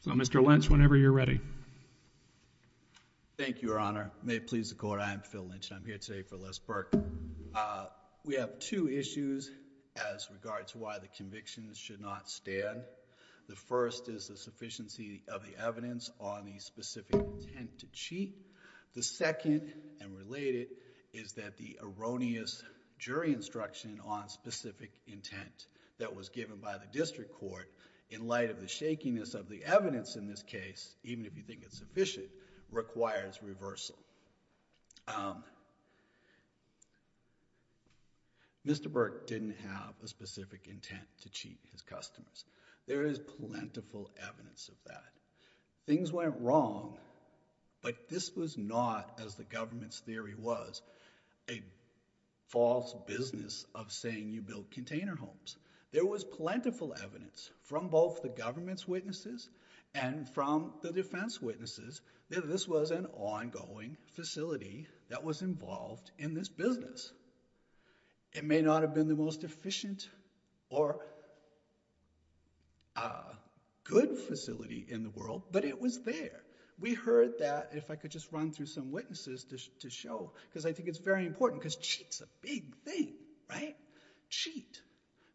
So Mr. Lynch, whenever you're ready. Thank you, Your Honor. May it please the court, I'm Phil Lynch, and I'm here today for Les Burke. We have two issues as regards to why the convictions should not stand. The first is the sufficiency of the evidence on the specific intent to cheat. The second, and related, is that the erroneous jury instruction on specific intent that was given by the district court in light of the shakiness of the evidence in this case, even if you think it's sufficient, requires reversal. Mr. Burke didn't have a specific intent to cheat his customers. There is plentiful evidence of that. Things went wrong, but this was not, as the government's theory was, a false business of saying you build container homes. There was plentiful evidence from both the government's witnesses and from the defense witnesses that this was an ongoing facility that was involved in this business. It may not have been the most efficient or good facility in the world, but it was there. We heard that, if I could just run through some witnesses to show, because I think it's very important, because cheat's a big thing, right? Cheat.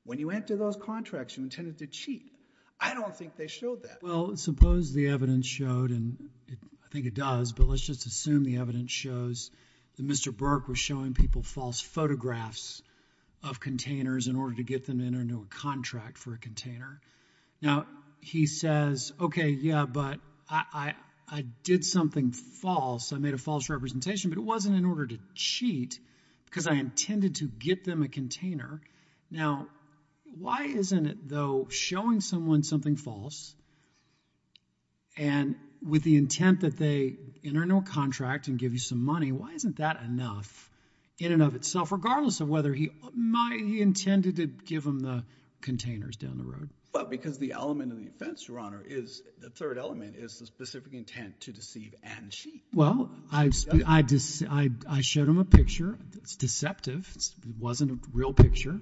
When you enter those contracts, you intended to cheat. I don't think they showed that. Well, suppose the evidence showed, and I think it does, but let's just assume the evidence shows that Mr. Burke was showing people false photographs of containers in order to get them into a contract for a container. Now, he says, OK, yeah, but I did something false. I made a false representation, but it wasn't in order to cheat, because I intended to get them a container. Now, why isn't it, though, showing someone something false, and with the intent that they enter into a contract and give you some money, why isn't that enough in and of itself, regardless of whether he intended to give them the containers down the road? Well, because the element of the offense, Your Honor, the third element is the specific intent to deceive and cheat. Well, I showed him a picture that's deceptive. It wasn't a real picture.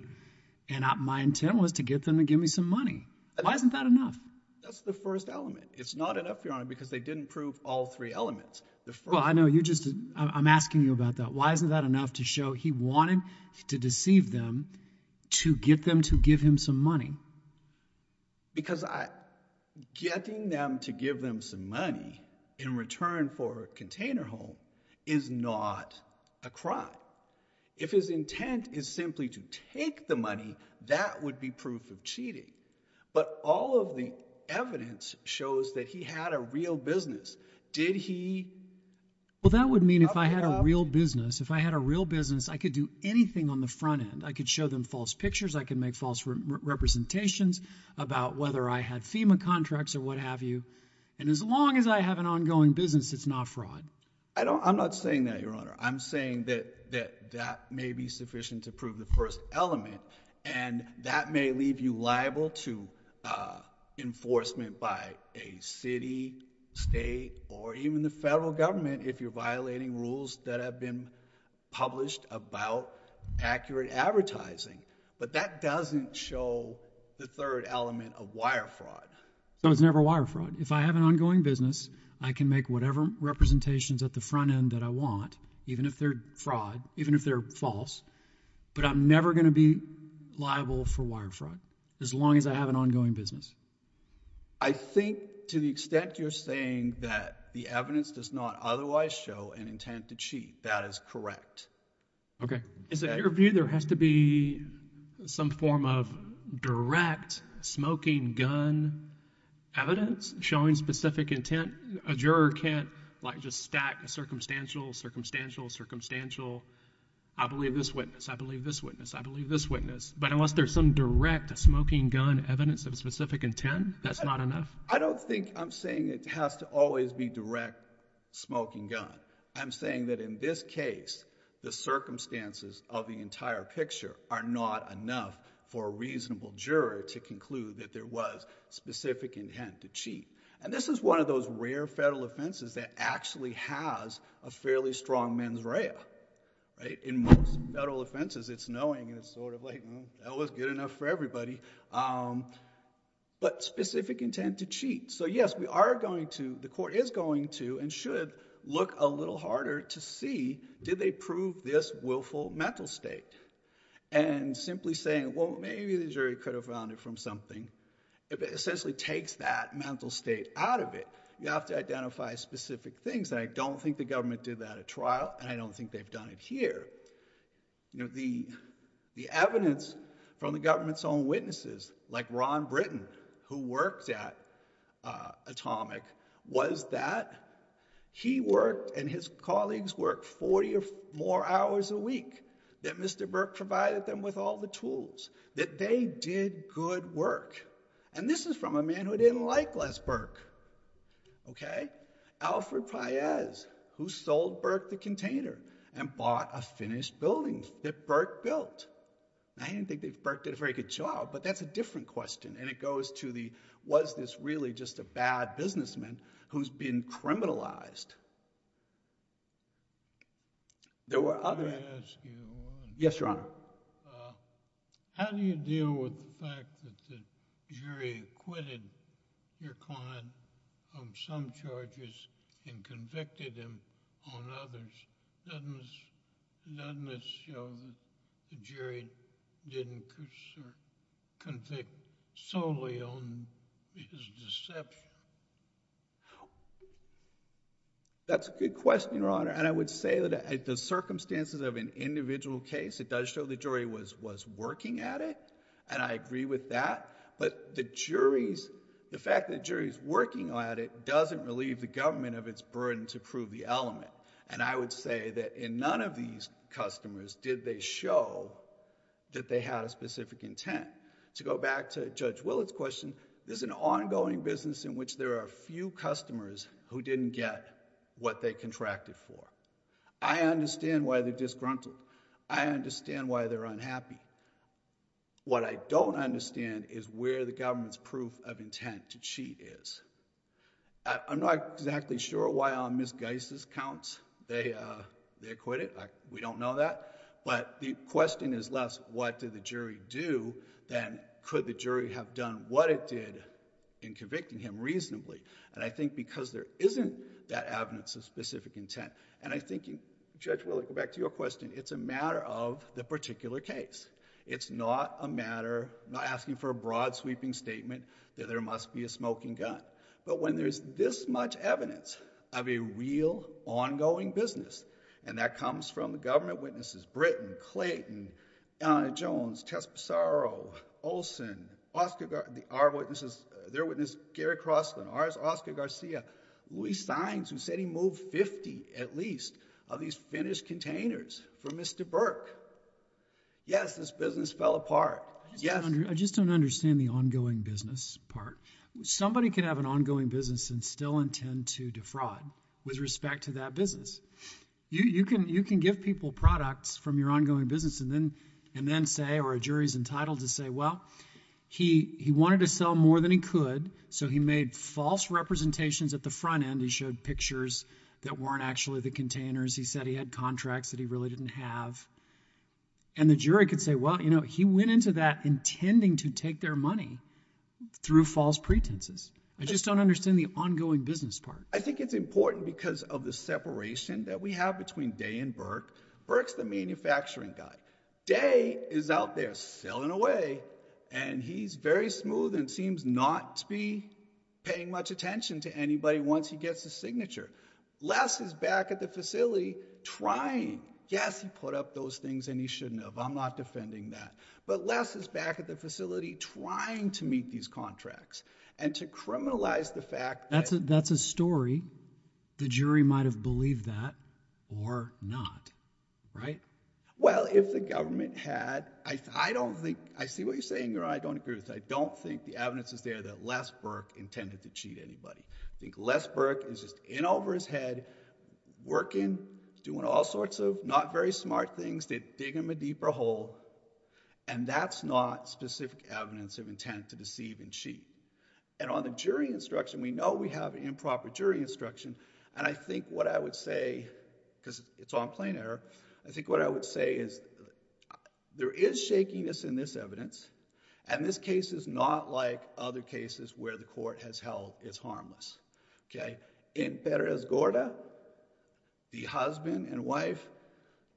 And my intent was to get them to give me some money. Why isn't that enough? That's the first element. It's not enough, Your Honor, because they didn't prove all three elements. Well, I know. I'm asking you about that. Why isn't that enough to show he wanted to deceive them to get them to give him some money? Because getting them to give them some money in return for a container home is not a crime. If his intent is simply to take the money, that would be proof of cheating. But all of the evidence shows that he had a real business. Did he? Well, that would mean if I had a real business, if I had a real business, I could do anything on the front end. I could show them false pictures. I could make false representations about whether I had FEMA contracts or what have you. And as long as I have an ongoing business, it's not fraud. I'm not saying that, Your Honor. I'm saying that that may be sufficient to prove the first element. And that may leave you liable to enforcement by a city, state, or even the federal government if you're violating rules that have been published about accurate advertising. But that doesn't show the third element of wire fraud. So it's never wire fraud. If I have an ongoing business, I can make whatever representations at the front end that I want, even if they're fraud, even if they're false. But I'm never going to be liable for wire fraud, as long as I have an ongoing business. I think to the extent you're saying that the evidence does not otherwise show an intent to cheat, that is correct. OK. In your view, there has to be some form of direct smoking gun evidence showing specific intent. A juror can't just stack a circumstantial, circumstantial, circumstantial. I believe this witness. I believe this witness. I believe this witness. But unless there's some direct smoking gun evidence of specific intent, that's not enough? I don't think I'm saying it has to always be direct smoking gun. I'm saying that in this case, the circumstances of the entire picture are not enough for a reasonable juror to conclude that there was specific intent to cheat. And this is one of those rare federal offenses that actually has a fairly strong mens rea. In most federal offenses, it's knowing, and it's sort of like, that was good enough for everybody. But specific intent to cheat. So yes, we are going to, the court is going to, and should look a little harder to see, did they prove this willful mental state? And simply saying, well, maybe the jury could have found it from something. It essentially takes that mental state out of it. You have to identify specific things. And I don't think the government did that at trial, and I don't think they've done it here. The evidence from the government's own witnesses, like Ron Britton, who worked at Atomic, was that he worked, and his colleagues worked, 40 or more hours a week. That Mr. Burke provided them with all the tools. That they did good work. And this is from a man who didn't like Les Burke. Alfred Paez, who sold Burke the container and bought a finished building that Burke built. Now, I didn't think that Burke did a very good job, but that's a different question. And it goes to the, was this really just a bad businessman who's been criminalized? There were other. Let me ask you one. Yes, Your Honor. How do you deal with the fact that the jury acquitted your client on some charges and convicted him on others? Doesn't this show that the jury didn't convict solely on his deception? That's a good question, Your Honor. And I would say that the circumstances of an individual case, it does show the jury was working at it. And I agree with that. But the fact that the jury's working at it doesn't relieve the government of its burden to prove the element. And I would say that in none of these customers did they show that they had a specific intent. To go back to Judge Willett's question, this is an ongoing business in which there are few customers who didn't get what they contracted for. I understand why they're disgruntled. I understand why they're unhappy. What I don't understand is where the government's proof of intent to cheat is. I'm not exactly sure why on Ms. Geis' counts they acquitted. We don't know that. But the question is less, what did the jury do, than could the jury have done what it did in convicting him reasonably? And I think because there isn't that evidence of specific intent. And I think, Judge Willett, to go back to your question, it's a matter of the particular case. It's not a matter, I'm not asking for a broad sweeping statement that there must be a smoking gun. But when there's this much evidence of a real ongoing business, and that comes from the government witnesses, Britton, Clayton, Jones, Tespisaro, Olson, our witnesses, their witness Gary Crossman, ours, Oscar Garcia, we signed to say he moved 50 at least of these finished containers for Mr. Burke. Yes, this business fell apart. Yes. I just don't understand the ongoing business part. Somebody can have an ongoing business and still intend to defraud with respect to that business. You can give people products from your ongoing business and then say, or a jury's entitled to say, well, he wanted to sell more than he could, so he made false representations at the front end. He showed pictures that weren't actually the containers. He said he had contracts that he really didn't have. And the jury could say, well, he went into that intending to take their money through false pretenses. I just don't understand the ongoing business part. I think it's important because of the separation that we have between Day and Burke. Burke's the manufacturing guy. Day is out there selling away, and he's very smooth and seems not to be paying much attention to anybody once he gets a signature. Les is back at the facility trying. Yes, he put up those things, and he shouldn't have. I'm not defending that. But Les is back at the facility trying to meet these contracts and to criminalize the fact that- That's a story. The jury might have believed that or not, right? Well, if the government had, I don't think, I see what you're saying, Your Honor, I don't agree with. I don't think the evidence is there that Les Burke intended to cheat anybody. I think Les Burke is just in over his head, working, doing all sorts of not very smart things to dig him a deeper hole. And that's not specific evidence of intent to deceive and cheat. And on the jury instruction, we know we have improper jury instruction. And I think what I would say, because it's on plain error, I think what I would say is, there is shakiness in this evidence, and this case is not like other cases where the court has held it's harmless, okay? In Perez Gorda, the husband and wife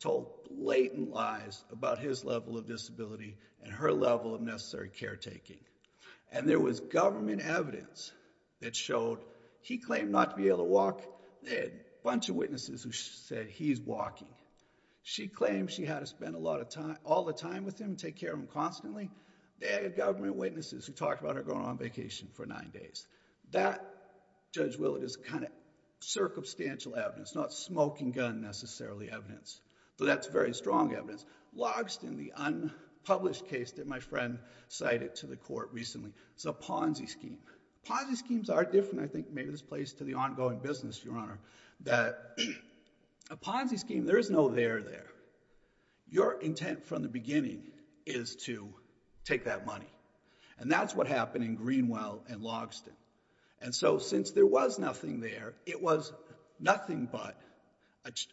told blatant lies about his level of disability and her level of necessary caretaking. And there was government evidence that showed, he claimed not to be able to walk. They had a bunch of witnesses who said he's walking. She claimed she had to spend a lot of time, all the time with him, take care of him constantly. They had government witnesses who talked about her going on vacation for nine days. That, Judge Willard, is kind of circumstantial evidence, not smoking gun necessarily evidence. But that's very strong evidence. Logsdon, the unpublished case that my friend cited to the court recently, it's a Ponzi scheme. Ponzi schemes are different, I think, maybe this plays to the ongoing business, Your Honor, that a Ponzi scheme, there is no there there. Your intent from the beginning is to take that money. And that's what happened in Greenwell and Logsdon. And so since there was nothing there, it was nothing but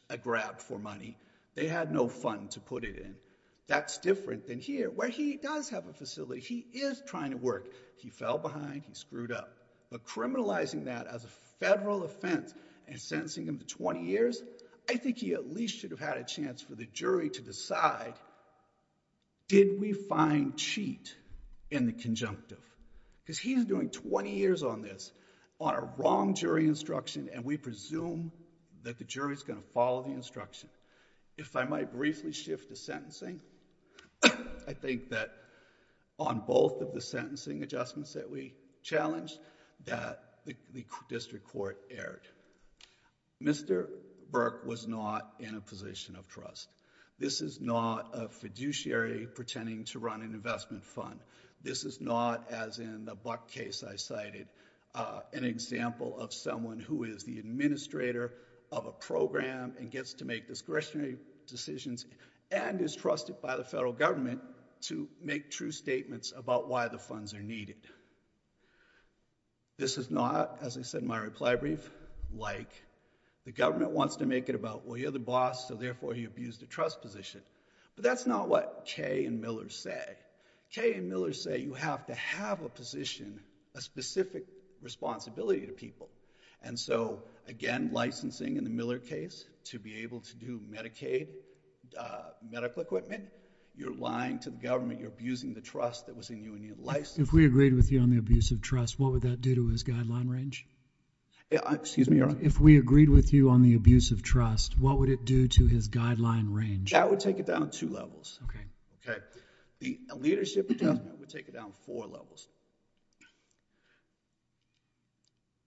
a grab for money. They had no fund to put it in. That's different than here, where he does have a facility. He is trying to work. He fell behind, he screwed up. But criminalizing that as a federal offense and sentencing him to 20 years, I think he at least should have had a chance for the jury to decide, did we find cheat in the conjunctive? Because he's doing 20 years on this, on a wrong jury instruction, and we presume that the jury's gonna follow the instruction. If I might briefly shift to sentencing, I think that on both of the sentencing adjustments that we challenged, that the district court erred. Mr. Burke was not in a position of trust. This is not a fiduciary pretending to run an investment fund. This is not, as in the Buck case I cited, an example of someone who is the administrator of a program and gets to make discretionary decisions and is trusted by the federal government to make true statements about why the funds are needed. This is not, as I said in my reply brief, like the government wants to make it about, well, you're the boss, so therefore you abuse the trust position. But that's not what Kay and Miller say. Kay and Miller say you have to have a position, a specific responsibility to people. And so, again, licensing in the Miller case to be able to do Medicaid medical equipment, you're lying to the government, you're abusing the trust that was in union licensing. If we agreed with you on the abuse of trust, what would that do to his guideline range? Excuse me, your honor? If we agreed with you on the abuse of trust, what would it do to his guideline range? That would take it down two levels. Okay. Okay, the leadership adjustment would take it down four levels.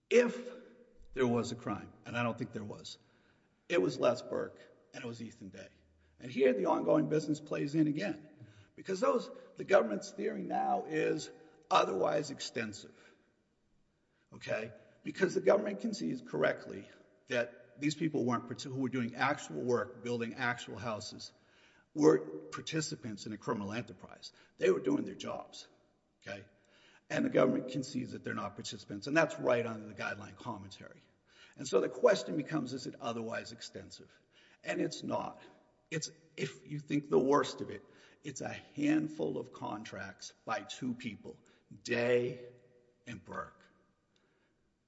If there was a crime, and I don't think there was, it was Les Burke, and it was Ethan Day. And here the ongoing business plays in again. Because the government's theory now is otherwise extensive. Okay? Because the government concedes correctly that these people who were doing actual work, building actual houses, were participants in a criminal enterprise. They were doing their jobs, okay? And the government concedes that they're not participants, and that's right under the guideline commentary. And so the question becomes, is it otherwise extensive? And it's not. It's, if you think the worst of it, it's a handful of contracts by two people, Day and Burke.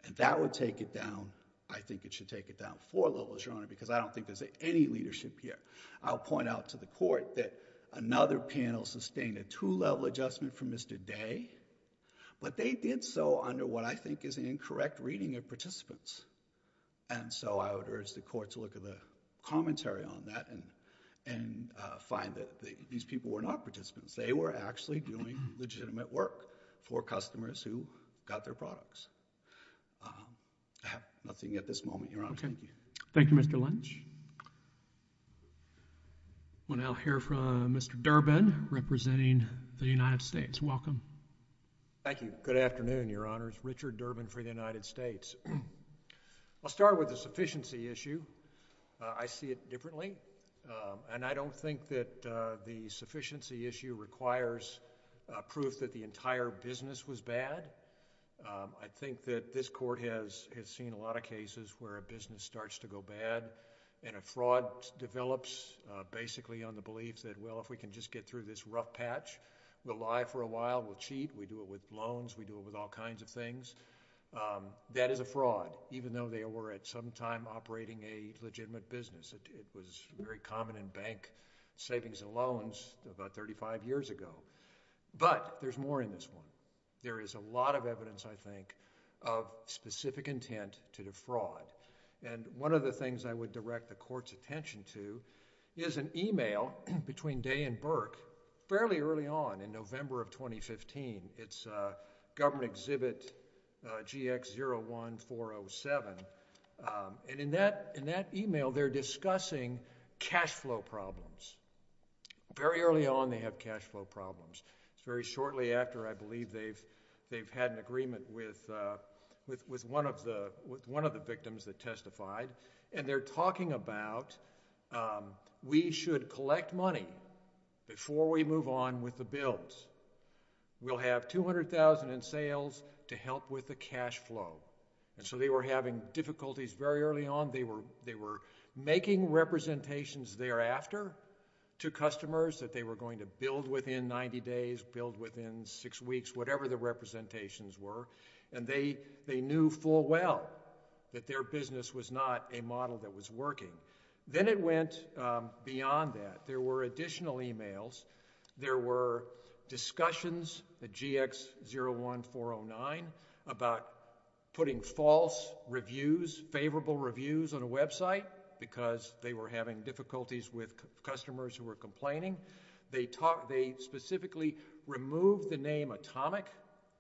And that would take it down, I think it should take it down four levels, your honor, because I don't think there's any leadership here. I'll point out to the court that another panel sustained a two-level adjustment from Mr. Day, but they did so under what I think is an incorrect reading of participants. And so I would urge the court to look at the commentary on that and find that these people were not participants. They were actually doing legitimate work for customers who got their products. I have nothing at this moment, your honor. Thank you. Thank you, Mr. Lynch. We'll now hear from Mr. Durbin, representing the United States. Welcome. Thank you. Good afternoon, your honors. Richard Durbin for the United States. I'll start with the sufficiency issue. I see it differently. And I don't think that the sufficiency issue requires proof that the entire business was bad. I think that this court has seen a lot of cases where a business starts to go bad and a fraud develops basically on the belief that, well, if we can just get through this rough patch, we'll lie for a while, we'll cheat, we do it with loans, we do it with all kinds of things. That is a fraud, even though they were at some time operating a legitimate business. It was very common in bank savings and loans about 35 years ago. But there's more in this one. There is a lot of evidence, I think, of specific intent to defraud. And one of the things I would direct the court's attention to is an email between Day and Burke fairly early on in November of 2015. It's Government Exhibit GX01407. And in that email, they're discussing cash flow problems. Very early on, they have cash flow problems. It's very shortly after, I believe, they've had an agreement with one of the victims that testified. And they're talking about, we should collect money before we move on with the bills. We'll have 200,000 in sales to help with the cash flow. And so they were having difficulties very early on. They were making representations thereafter to customers that they were going to build within 90 days, build within six weeks, whatever the representations were. And they knew full well that their business was not a model that was working. Then it went beyond that. There were additional emails. There were discussions, the GX01409, about putting false reviews, favorable reviews on a website because they were having difficulties with customers who were complaining. They specifically removed the name Atomic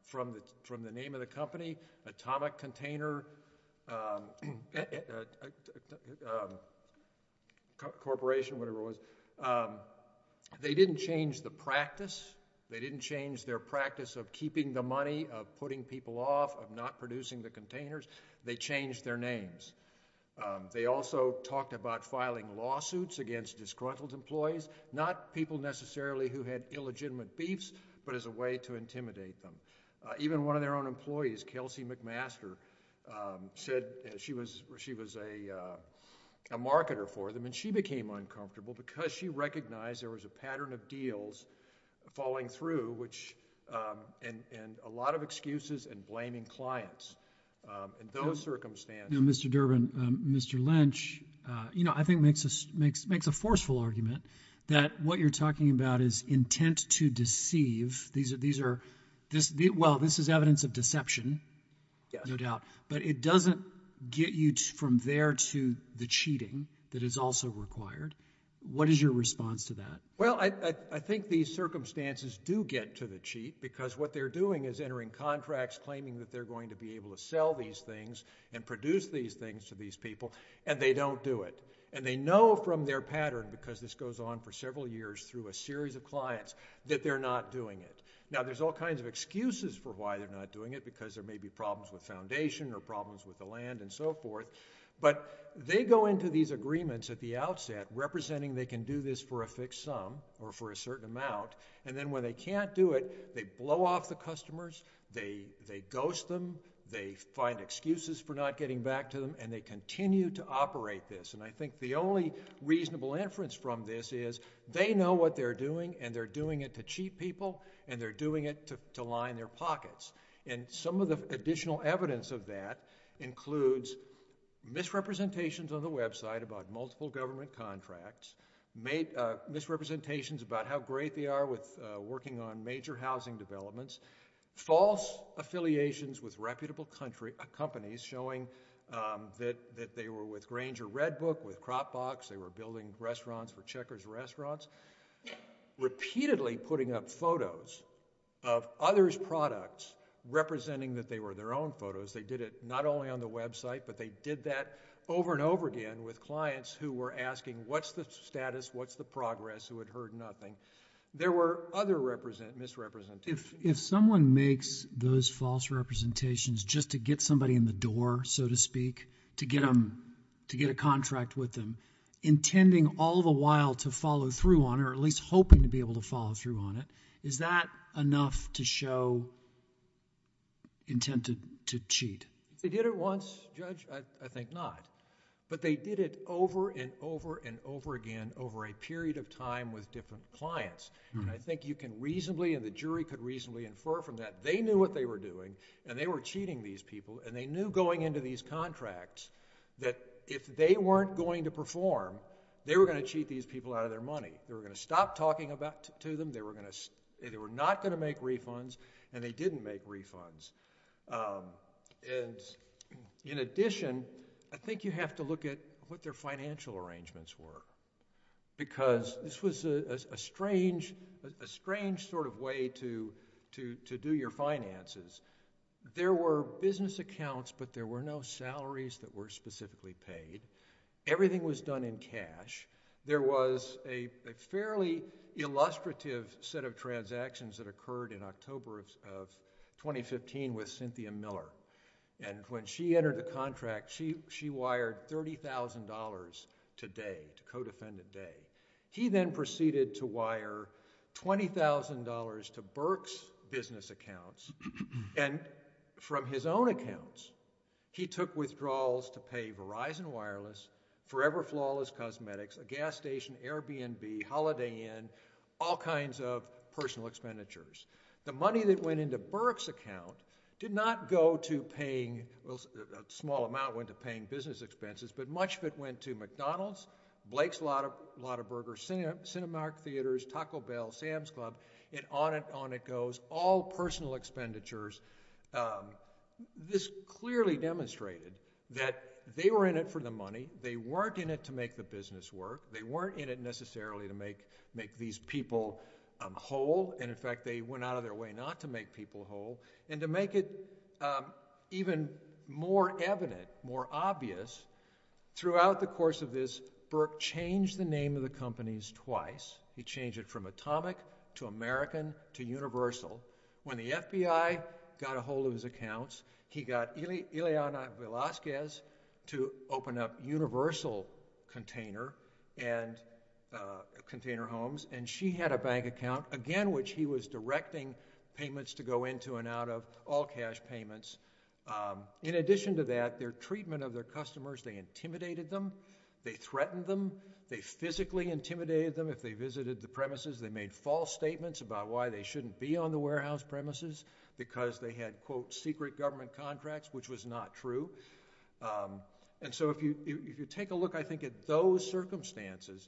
from the name of the company, Atomic Container Corporation, whatever it was. They didn't change the practice. They didn't change their practice of keeping the money, of putting people off, of not producing the containers. They changed their names. They also talked about filing lawsuits against disgruntled employees, not people necessarily who had illegitimate beefs, but as a way to intimidate them. Even one of their own employees, Kelsey McMaster, said she was a marketer for them, and she became uncomfortable because she recognized there was a pattern of deals falling through, and a lot of excuses and blaming clients. In those circumstances. Mr. Durbin, Mr. Lynch, I think makes a forceful argument that what you're talking about is intent to deceive. These are, well, this is evidence of deception, no doubt, but it doesn't get you from there to the cheating that is also required. What is your response to that? Well, I think these circumstances do get to the cheat because what they're doing is entering contracts claiming that they're going to be able to sell these things and produce these things to these people, and they don't do it, and they know from their pattern, because this goes on for several years through a series of clients, that they're not doing it. Now, there's all kinds of excuses for why they're not doing it, because there may be problems with foundation or problems with the land and so forth, but they go into these agreements at the outset representing they can do this for a fixed sum or for a certain amount, and then when they can't do it, they blow off the customers, they ghost them, they find excuses for not getting back to them, and they continue to operate this, and I think the only reasonable inference from this is they know what they're doing, and they're doing it to cheat people, and they're doing it to line their pockets, and some of the additional evidence of that includes misrepresentations on the website about multiple government contracts, misrepresentations about how great they are with working on major housing developments, false affiliations with reputable companies showing that they were with Grainger Red Book, with CropBox, they were building restaurants for Checkers restaurants, repeatedly putting up photos of others' products representing that they were their own photos. They did it not only on the website, but they did that over and over again with clients who were asking what's the status, what's the progress, who had heard nothing. There were other misrepresentations. If someone makes those false representations just to get somebody in the door, so to speak, to get a contract with them, intending all the while to follow through on it, or at least hoping to be able to follow through on it, is that enough to show intent to cheat? They did it once, Judge, I think not, but they did it over and over and over again over a period of time with different clients, and I think you can reasonably, and the jury could reasonably infer from that, they knew what they were doing, and they were cheating these people, and they knew going into these contracts that if they weren't going to perform, they were gonna cheat these people out of their money. They were gonna stop talking to them, they were not gonna make refunds, and they didn't make refunds. And in addition, I think you have to look at what their financial arrangements were, because this was a strange sort of way to do your finances. There were business accounts, but there were no salaries that were specifically paid. Everything was done in cash. There was a fairly illustrative set of transactions that occurred in October of 2015 with Cynthia Miller, and when she entered the contract, she wired $30,000 today, to Codefendant Day. He then proceeded to wire $20,000 to Burke's business accounts, and from his own accounts, he took withdrawals to pay Verizon Wireless, Forever Flawless Cosmetics, a gas station, Airbnb, Holiday Inn, all kinds of personal expenditures. The money that went into Burke's account did not go to paying, well, a small amount went to paying business expenses, but much of it went to McDonald's, Blake's, a lot of burgers, Cinemark Theaters, Taco Bell, Sam's Club, and on it goes, all personal expenditures. This clearly demonstrated that they were in it for the money. They weren't in it to make the business work. They weren't in it necessarily to make these people whole, and in fact, they went out of their way not to make people whole, and to make it even more evident, more obvious, throughout the course of this, Burke changed the name of the companies twice. He changed it from Atomic to American to Universal. When the FBI got a hold of his accounts, he got Ileana Velasquez to open up Universal Container and Container Homes, and she had a bank account, again, which he was directing payments to go into and out of, all cash payments. In addition to that, their treatment of their customers, they intimidated them, they threatened them, they physically intimidated them. If they visited the premises, they made false statements about why they shouldn't be on the warehouse premises, because they had, quote, secret government contracts, which was not true, and so if you take a look, I think, at those circumstances,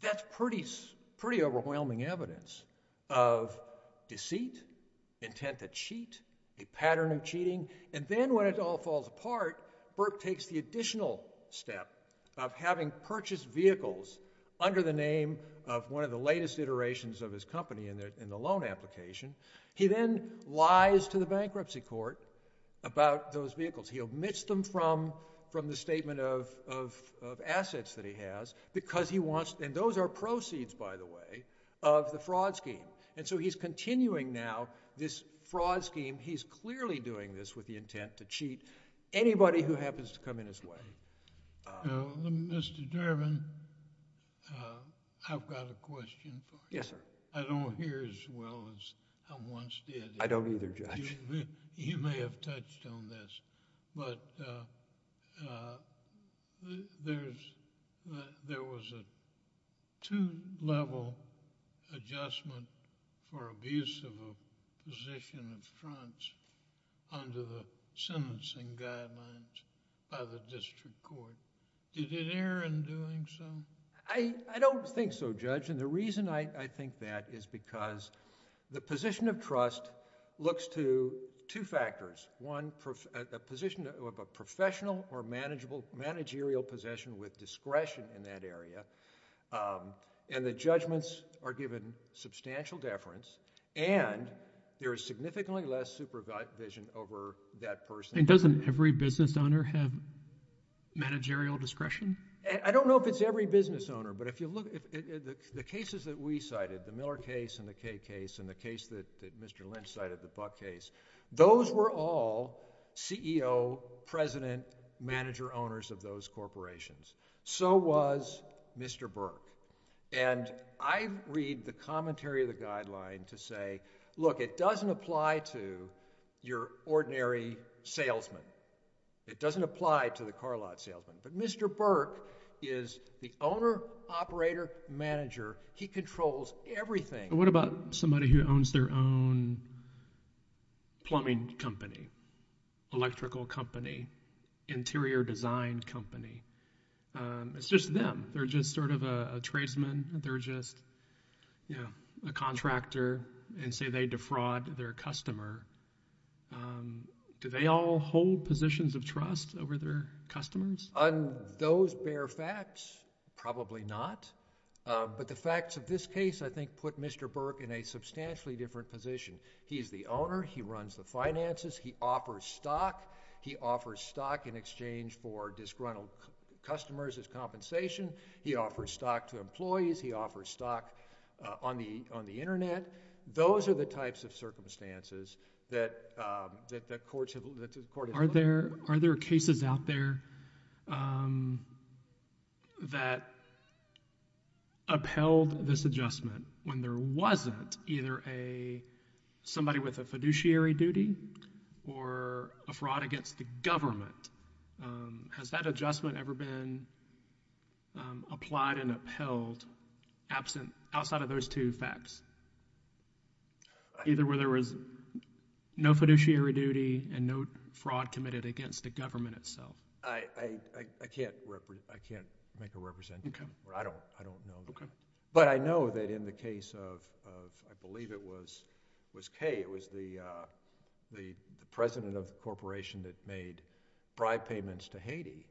that's pretty overwhelming evidence of deceit, intent to cheat, a pattern of cheating, and then when it all falls apart, Burke takes the additional step of having purchased vehicles under the name of one of the latest iterations of his company in the loan application. He then lies to the bankruptcy court about those vehicles. He omits them from the statement of assets that he has, because he wants, and those are proceeds, by the way, of the fraud scheme, and so he's continuing now this fraud scheme, he's clearly doing this with the intent to cheat. Anybody who happens to come in his way. Mr. Durbin, I've got a question for you. Yes, sir. I don't hear as well as I once did. I don't either, Judge. You may have touched on this, but there was a two-level adjustment for abuse of a position of trust under the sentencing guidelines by the district court. Did it err in doing so? I don't think so, Judge, and the reason I think that is because the position of trust looks to two factors. One, a position of a professional or managerial possession with discretion in that area, and the judgments are given substantial deference, and there is significantly less supervision over that person. And doesn't every business owner have managerial discretion? I don't know if it's every business owner, but if you look at the cases that we cited, the Miller case and the Kaye case, and the case that Mr. Lynch cited, the Buck case, those were all CEO, president, manager owners of those corporations. So was Mr. Burke. And I read the commentary of the guideline to say, look, it doesn't apply to your ordinary salesman. It doesn't apply to the car lot salesman, but Mr. Burke is the owner, operator, manager. He controls everything. What about somebody who owns their own plumbing company, electrical company, interior design company? It's just them. They're just sort of a tradesman. They're just a contractor, and say they defraud their customer. Do they all hold positions of trust over their customers? On those bare facts, probably not. But the facts of this case, I think, put Mr. Burke in a substantially different position. He's the owner. He runs the finances. He offers stock. He offers stock in exchange for disgruntled customers as compensation. He offers stock to employees. He offers stock on the internet. Those are the types of circumstances that the court has looked at. Are there cases out there that upheld this adjustment when there wasn't either somebody with a fiduciary duty or a fraud against the government? Has that adjustment ever been applied and upheld outside of those two facts? Either where there was no fiduciary duty and no fraud committed against the government itself? I can't make a representation. I don't know. But I know that in the case of, I believe it was Kay, it was the president of the corporation that made bribe payments to Haiti.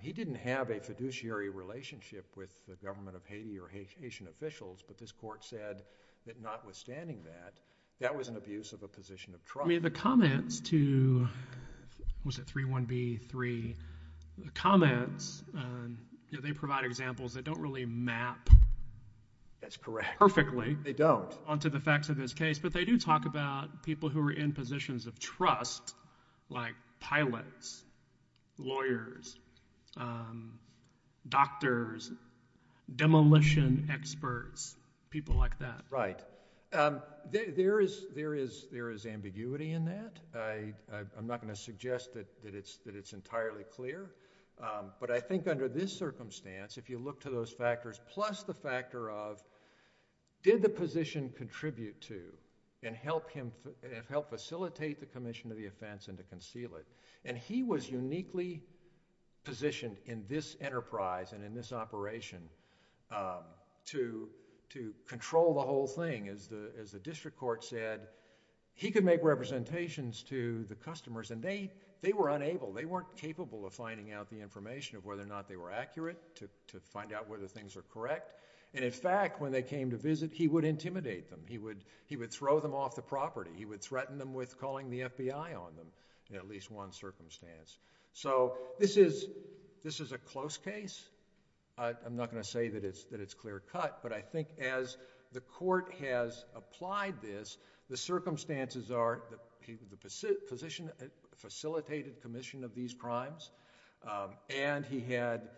He didn't have a fiduciary relationship with the government of Haiti or Haitian officials, but this court said that notwithstanding that, that was an abuse of a position of trust. I mean, the comments to, was it 3-1-B-3? The comments, they provide examples that don't really map perfectly onto the facts of this case, but they do talk about people who are in positions of trust, like pilots, lawyers, doctors, demolition experts, people like that. Right. There is ambiguity in that. I'm not gonna suggest that it's entirely clear, but I think under this circumstance, if you look to those factors, plus the factor of, did the position contribute to and help facilitate the commission of the offense and to conceal it? And he was uniquely positioned in this enterprise and in this operation to control the whole thing. As the district court said, he could make representations to the customers and they were unable, they weren't capable of finding out the information of whether or not they were accurate, to find out whether things are correct. And in fact, when they came to visit, he would intimidate them. He would throw them off the property. He would threaten them with calling the FBI on them, in at least one circumstance. So this is a close case. I'm not gonna say that it's clear cut, but I think as the court has applied this, the circumstances are that the position facilitated commission of these crimes, and he had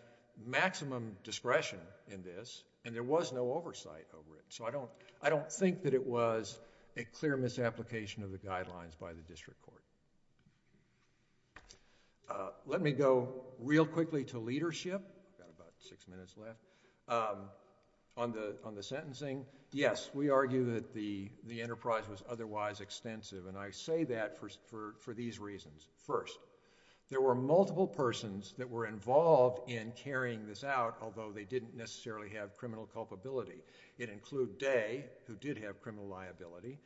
maximum discretion in this, and there was no oversight over it. So I don't think that it was a clear misapplication of the guidelines by the district court. Let me go real quickly to leadership. Got about six minutes left. On the sentencing, yes, we argue that the enterprise was otherwise extensive, and I say that for these reasons. First, there were multiple persons that were involved in carrying this out, although they didn't necessarily have criminal culpability. It included Day, who did have criminal liability.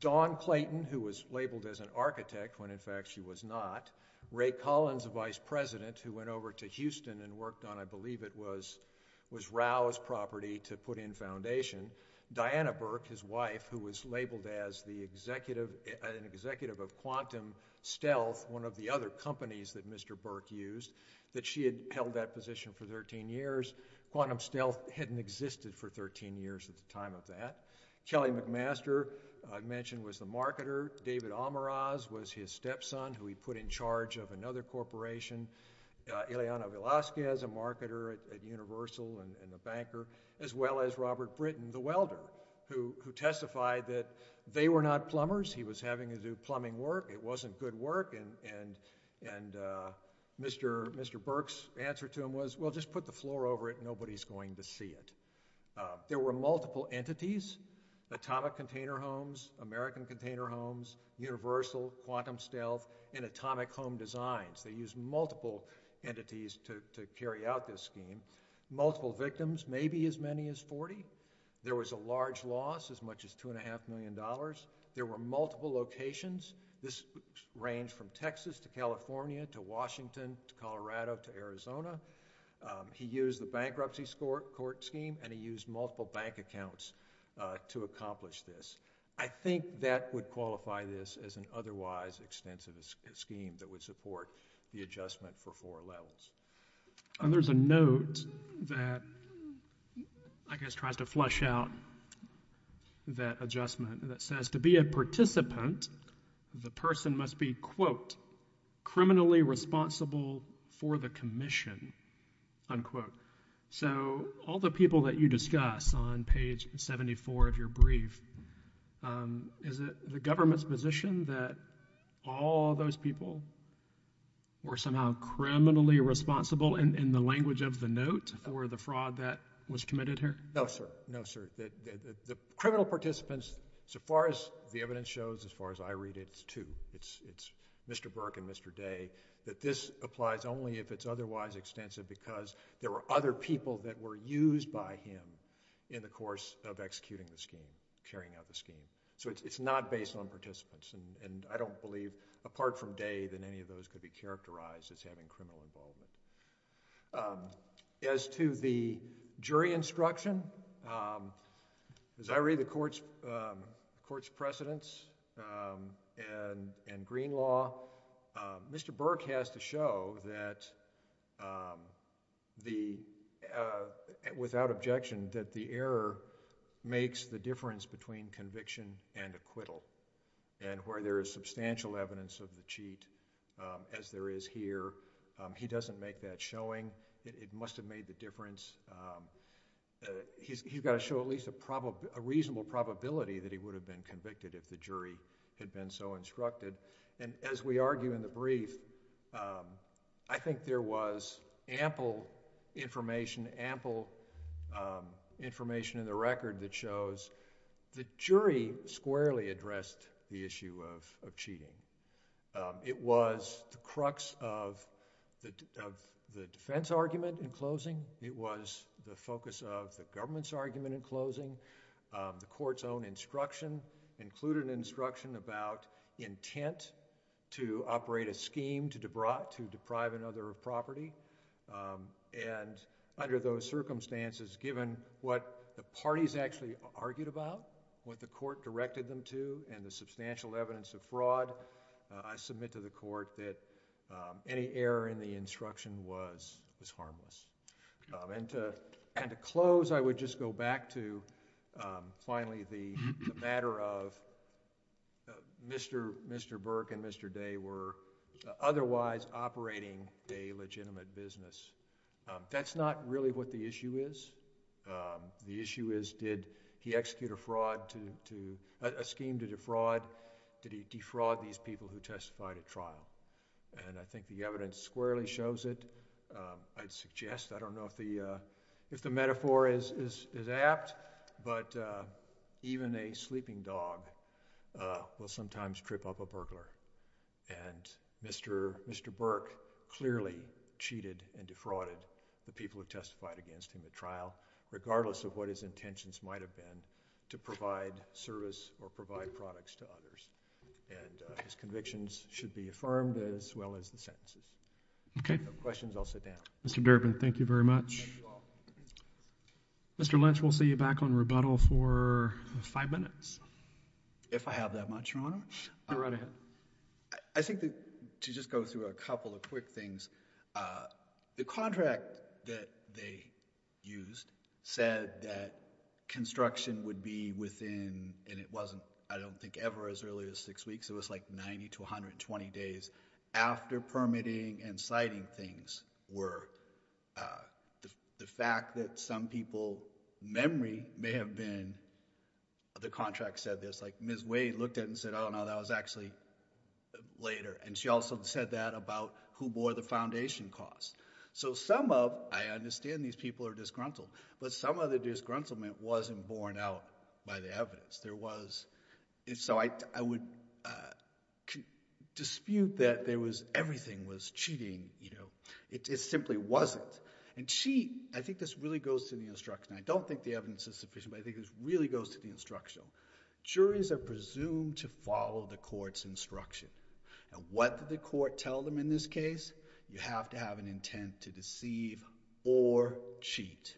Dawn Clayton, who was labeled as an architect, when in fact she was not. Ray Collins, the vice president, who went over to Houston and worked on, I believe it was Rao's property, to put in foundation. Diana Burke, his wife, who was labeled as an executive of Quantum Stealth, one of the other companies that Mr. Burke used, that she had held that position for 13 years. Quantum Stealth hadn't existed for 13 years at the time of that. Kelly McMaster, I mentioned, was the marketer. David Almaraz was his stepson, who he put in charge of another corporation. Ileana Velasquez, a marketer at Universal and a banker, as well as Robert Britton, the welder, who testified that they were not plumbers. He was having to do plumbing work. It wasn't good work, and Mr. Burke's answer to him was, well, just put the floor over it, nobody's going to see it. There were multiple entities, atomic container homes, American container homes, Universal, Quantum Stealth, and atomic home designs. They used multiple entities to carry out this scheme. Multiple victims, maybe as many as 40. There was a large loss, as much as $2.5 million. There were multiple locations. This ranged from Texas to California to Washington to Colorado to Arizona. He used the bankruptcy court scheme, and he used multiple bank accounts to accomplish this. I think that would qualify this as an otherwise extensive scheme that would support the adjustment for four levels. And there's a note that, I guess, tries to flush out that adjustment that says, to be a participant, the person must be, quote, criminally responsible for the commission, unquote. So all the people that you discuss on page 74 of your brief, is it the government's position that all those people were somehow criminally responsible in the language of the note for the fraud that was committed here? No, sir, no, sir. The criminal participants, so far as the evidence shows, as far as I read it, it's two, it's Mr. Burke and Mr. Day, that this applies only if it's otherwise extensive because there were other people that were used by him in the course of executing the scheme, carrying out the scheme. So it's not based on participants, and I don't believe, apart from Day, that any of those could be characterized as having criminal involvement. As to the jury instruction, as I read the court's precedents and green law, Mr. Burke has to show that without objection, that the error makes the difference between conviction and acquittal, and where there is substantial evidence of the cheat, as there is here, he doesn't make that showing. It must have made the difference. He's gotta show at least a reasonable probability that he would have been convicted if the jury had been so instructed. And as we argue in the brief, I think there was ample information, ample information in the record that shows the jury squarely addressed the issue of cheating. It was the crux of the defense argument in closing. It was the focus of the government's argument in closing. The court's own instruction included instruction about intent to operate a scheme to deprive another of property. And under those circumstances, given what the parties actually argued about, what the court directed them to, and the substantial evidence of fraud, I submit to the court that any error in the instruction was harmless. And to close, I would just go back to finally the matter of Mr. Burke and Mr. Day were otherwise operating a legitimate business. That's not really what the issue is. The issue is did he execute a fraud to, a scheme to defraud, did he defraud these people who testified at trial? And I think the evidence squarely shows it. I'd suggest, I don't know if the metaphor is apt, but even a sleeping dog will sometimes trip up a burglar. And Mr. Burke clearly cheated and defrauded the people who testified against him at trial, regardless of what his intentions might have been to provide service or provide products to others. And his convictions should be affirmed as well as the sentences. Okay. If you have questions, I'll sit down. Mr. Durbin, thank you very much. Thank you all. Mr. Lynch, we'll see you back on rebuttal for five minutes. If I have that much, Your Honor. You're right ahead. I think that to just go through a couple of quick things, the contract that they used said that construction would be within, and it wasn't, I don't think, ever as early as six weeks. It was like 90 to 120 days after permitting and citing things were the fact that some people, memory may have been, the contract said this, like Ms. Wade looked at it and said, oh no, that was actually later. And she also said that about who bore the foundation cost. So some of, I understand these people are disgruntled, but some of the disgruntlement wasn't borne out by the evidence. There was, so I would dispute that there was, everything was cheating. It simply wasn't. And cheat, I think this really goes to the instruction. I don't think the evidence is sufficient, but I think this really goes to the instruction. Juries are presumed to follow the court's instruction. And what did the court tell them in this case? You have to have an intent to deceive or cheat.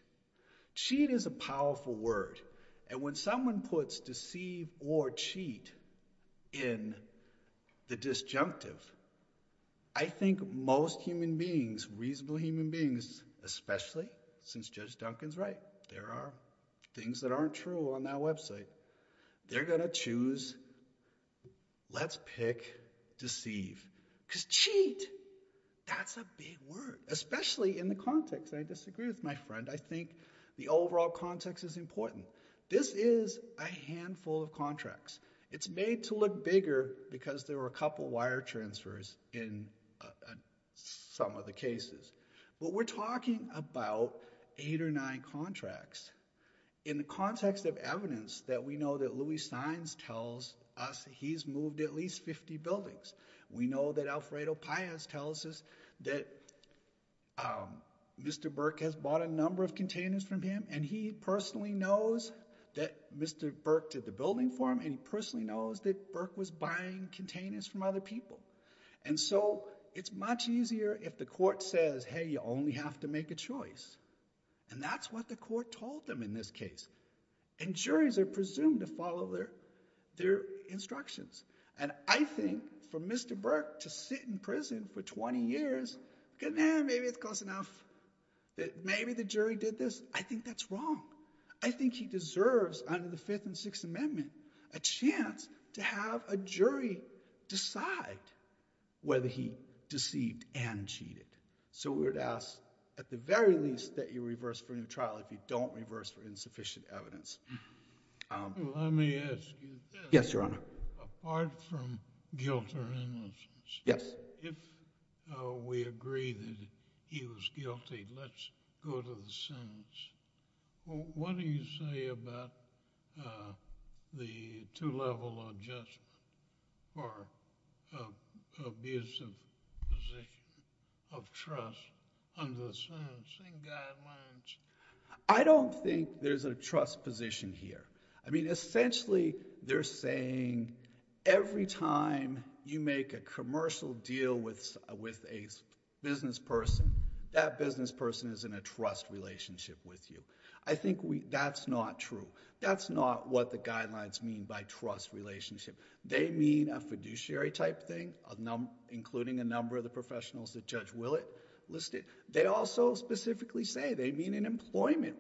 Cheat is a powerful word. And when someone puts deceive or cheat in the disjunctive, I think most human beings, reasonable human beings, especially since Judge Duncan's right, there are things that aren't true on that website, they're gonna choose, let's pick deceive. Because cheat, that's a big word, especially in the context. I disagree with my friend. I think the overall context is important. This is a handful of contracts. It's made to look bigger because there were a couple wire transfers in some of the cases. But we're talking about eight or nine contracts. In the context of evidence, that we know that Louie Sines tells us he's moved at least 50 buildings. We know that Alfredo Paez tells us that Mr. Burke has bought a number of containers from him, and he personally knows that Mr. Burke did the building for him, and he personally knows that Burke was buying containers from other people. And so it's much easier if the court says, hey, you only have to make a choice. And that's what the court told them in this case. And juries are presumed to follow their instructions. And I think for Mr. Burke to sit in prison for 20 years, good man, maybe it's close enough, that maybe the jury did this, I think that's wrong. I think he deserves under the Fifth and Sixth Amendment a chance to have a jury decide whether he deceived and cheated. So we would ask, at the very least, that you reverse for a new trial if you don't reverse for insufficient evidence. Let me ask you this. Yes, Your Honor. Apart from guilt or innocence. Yes. If we agree that he was guilty, let's go to the sentence. What do you say about the two-level or just for abusive position of trust under the sentencing guidelines? I don't think there's a trust position here. I mean, essentially, they're saying every time you make a commercial deal with a business person, that business person is in a trust relationship with you. I think that's not true. That's not what the guidelines mean by trust relationship. They mean a fiduciary type thing, including a number of the professionals that Judge Willett listed. They also specifically say they mean an employment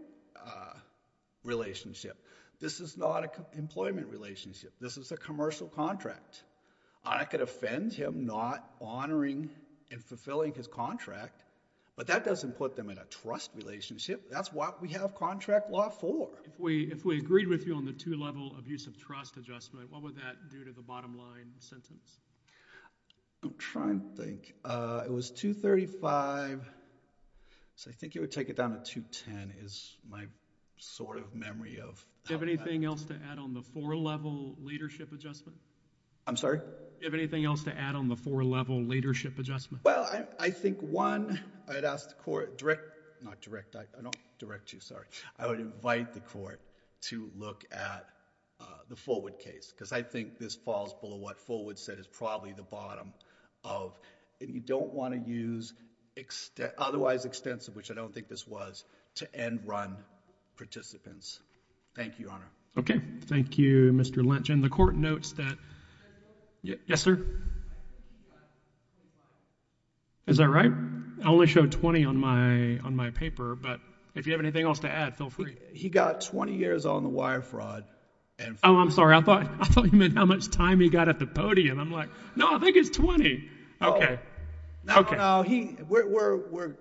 relationship. This is not an employment relationship. This is a commercial contract. I could offend him not honoring and fulfilling his contract, but that doesn't put them in a trust relationship. That's what we have contract law for. If we agreed with you on the two-level abusive trust adjustment, what would that do to the bottom line sentence? I'm trying to think. It was 235, so I think it would take it down to 210 is my sort of memory of. Do you have anything else to add on the four-level leadership adjustment? I'm sorry? Do you have anything else to add on the four-level leadership adjustment? Well, I think one, I'd ask the court direct, not direct, I don't direct you, sorry. I would invite the court to look at the Fullwood case because I think this falls below what Fullwood said is probably the bottom of, and you don't want to use otherwise extensive, which I don't think this was, to end run participants. Thank you, Your Honor. Okay, thank you, Mr. Lynch. And the court notes that, yes, sir? Is that right? I only showed 20 on my paper, but if you have anything else to add, feel free. He got 20 years on the wire fraud. Oh, I'm sorry, I thought you meant how much time he got at the podium. I'm like, no, I think it's 20. Okay, okay. No,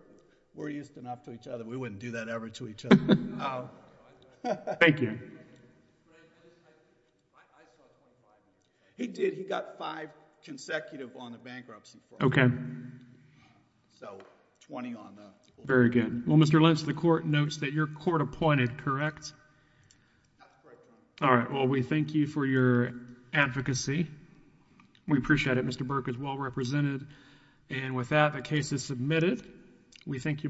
we're used enough to each other. We wouldn't do that ever to each other. Thank you. He did, he got five consecutive on the bankruptcy. Okay. So, 20 on the. Very good. Well, Mr. Lynch, the court notes that you're court appointed, correct? All right, well, we thank you for your advocacy. We appreciate it. Mr. Burke is well represented. And with that, the case is submitted. We thank you both.